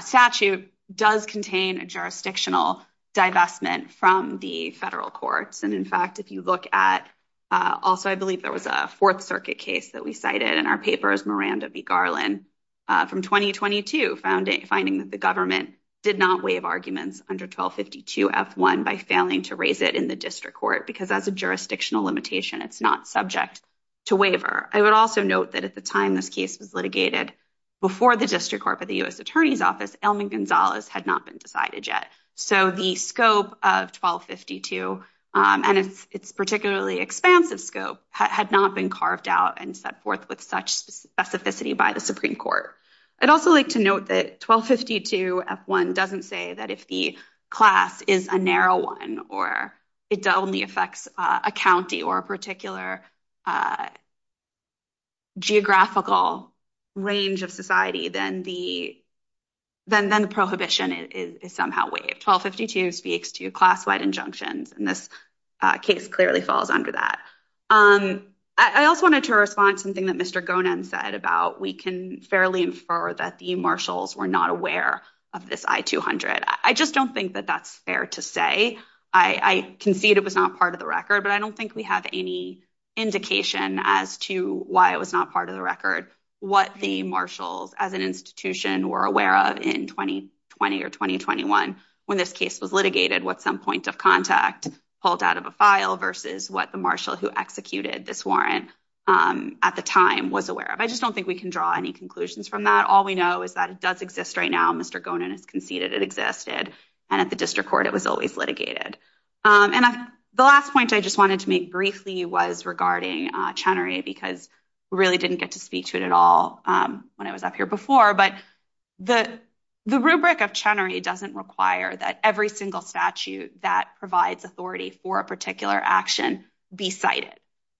statute does contain a jurisdictional divestment from the federal courts. And in fact, if you look at, uh, also, I believe there was a fourth circuit case that we cited in our papers, Miranda v. Garland, uh, from 2022 founding finding that the government did not waive arguments under 1252 F1 by failing to raise it in the district court, because as a jurisdictional limitation, it's not subject to waiver. I would also note that at the time this case was litigated, before the district court, but the U.S. attorney's office, Elman Gonzalez had not been decided yet. So the scope of 1252, um, and it's, it's particularly expansive scope had not been carved out and set forth with such specificity by the Supreme court. I'd also like to note that 1252 F1 doesn't say that if the class is a narrow one, or it only affects a county or a particular, uh, geographical range of society, then the, then, then the prohibition is somehow waived. 1252 speaks to class-wide injunctions. And this case clearly falls under that. Um, I also wanted to respond to something that Mr. Gonan said about, we can fairly infer that the marshals were not aware of this I-200. I just don't think that that's fair to say. I concede it was not part of the record, but I don't think we have any indication as to why it was not part of the record, what the marshals as an institution were aware of in 2020 or 2021, when this case was litigated, what some point of contact pulled out of a file versus what the marshal who executed this warrant, um, at the time was aware of. I just don't think we can draw any conclusions from that. All we know is that it does exist right now. Mr. Gonan has conceded it existed. And at the district court, it was always litigated. Um, and the last point I just wanted to make briefly was regarding, uh, Chenery because we really didn't get to speak to it at all, um, when I was up here before, but the, the rubric of Chenery doesn't require that every single statute that provides authority for a particular action be cited.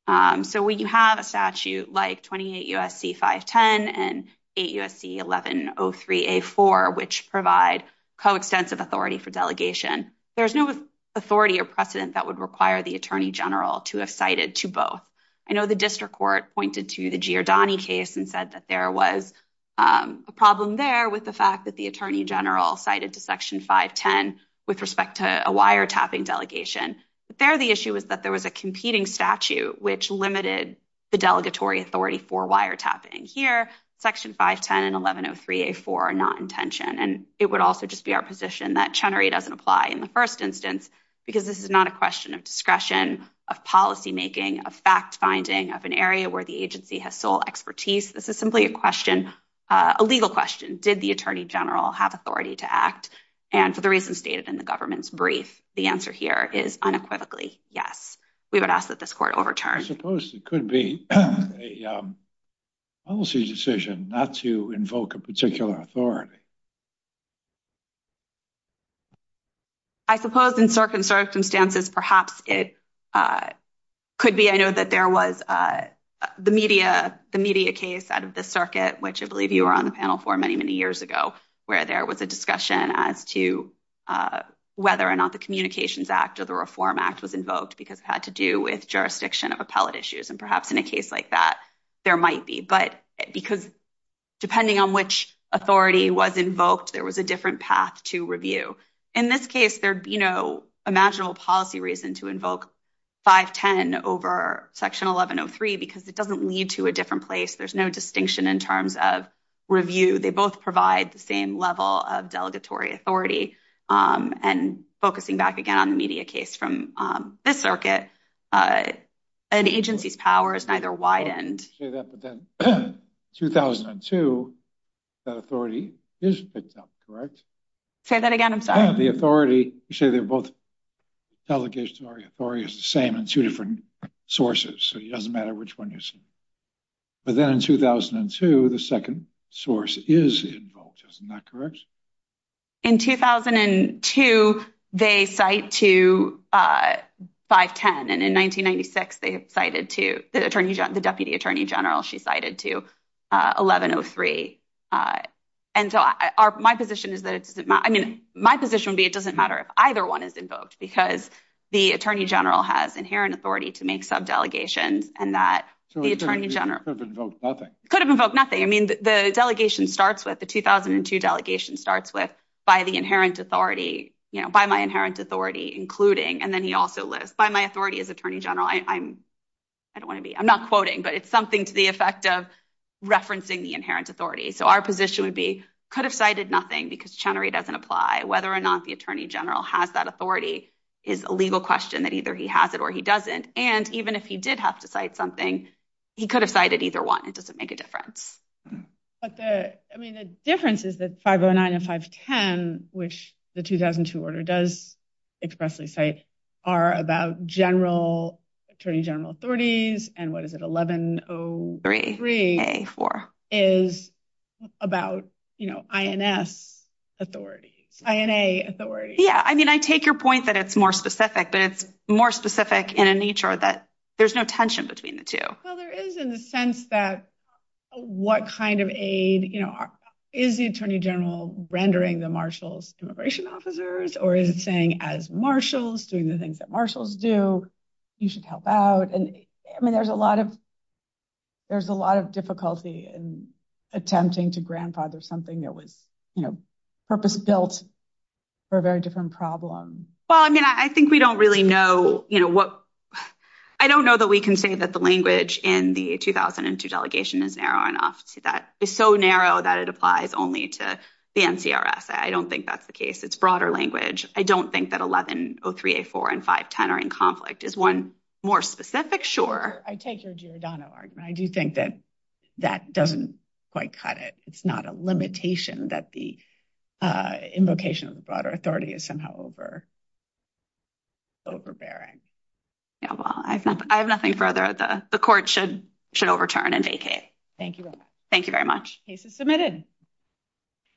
Um, so when you have a statute like 28 USC 510 and 8 USC 1103A4, which provide coextensive authority for delegation, there's no authority or precedent that would require the attorney general to have cited to both. I know the district court pointed to the Giordani case and said that there was, um, a problem there with the fact that the attorney general cited to section 510 with respect to a wiretapping delegation. But there, the issue is that there was a competing statute, which limited the delegatory authority for wiretapping here, section 510 and 1103A4 are not intention. And it would also just be our position that Chenery doesn't apply in the first instance, because this is not a question of discretion of policymaking of fact finding of an area where the agency has sole expertise. This is simply a question, a legal question. Did the attorney general have authority to act? And for the government's brief, the answer here is unequivocally yes. We would ask that this court overturned. I suppose it could be a policy decision not to invoke a particular authority. I suppose in circumstances, perhaps it, uh, could be. I know that there was, uh, the media, the media case out of the circuit, which I believe you were on the panel for many, many years ago, where there was a discussion as to, uh, whether or not the communications act or the reform act was invoked because it had to do with jurisdiction of appellate issues. And perhaps in a case like that, there might be, but because depending on which authority was invoked, there was a different path to review. In this case, there, you know, imaginable policy reason to invoke 510 over section 1103, because it doesn't lead to a different place. There's no distinction in terms of review. They both provide the same level of delegatory authority. Um, and focusing back again on the media case from, um, this circuit, uh, an agency's power is neither widened. 2002, that authority is picked up, correct? Say that again. I'm sorry. The authority, you say they're both delegations or authority is the same in two different sources. So it doesn't matter which one you see. But then in 2002, the second source is invoked. Isn't that correct? In 2002, they cite to, uh, 510. And in 1996, they cited to the attorney, the deputy attorney general, she cited to, uh, 1103. Uh, and so our, my position is that it doesn't matter. I mean, my position would be, it doesn't matter if either one is invoked because the attorney general has authority to make subdelegations and that the attorney general could have invoked nothing. I mean, the delegation starts with the 2002 delegation starts with by the inherent authority, you know, by my inherent authority, including, and then he also lists by my authority as attorney general. I I'm, I don't want to be, I'm not quoting, but it's something to the effect of referencing the inherent authority. So our position would be could have cited nothing because Chenery doesn't apply whether or not the attorney general has that authority is a legal question that either he has it or he doesn't. And even if he did have to cite something, he could have cited either one. It doesn't make a difference. But the, I mean, the difference is that 509 and 510, which the 2002 order does expressly say are about general attorney general authorities. And what is it? 1103 is about, you know, INS authority, INA authority. Yeah. I mean, I take your point that it's more specific, but it's more specific in a nature that there's no tension between the two. Well, there is in the sense that what kind of aid, you know, is the attorney general rendering the marshals immigration officers, or is it saying as marshals doing the things that marshals do, you should help out. And I mean, there's a lot of, there's a lot of difficulty in attempting to grandfather something that was, you know, purpose built for a very different problem. Well, I mean, I think we don't really know, you know, what, I don't know that we can say that the language in the 2002 delegation is narrow enough to that is so narrow that it applies only to the NCRS. I don't think that's the case. It's broader language. I don't think that 1103A4 and 510 are in conflict is one more specific. Sure. I take your Giordano argument. I do think that that doesn't quite cut it. It's not a limitation that the invocation of the broader authority is somehow overbearing. Yeah. Well, I have nothing further. The court should, should overturn and vacate. Thank you. Thank you very much.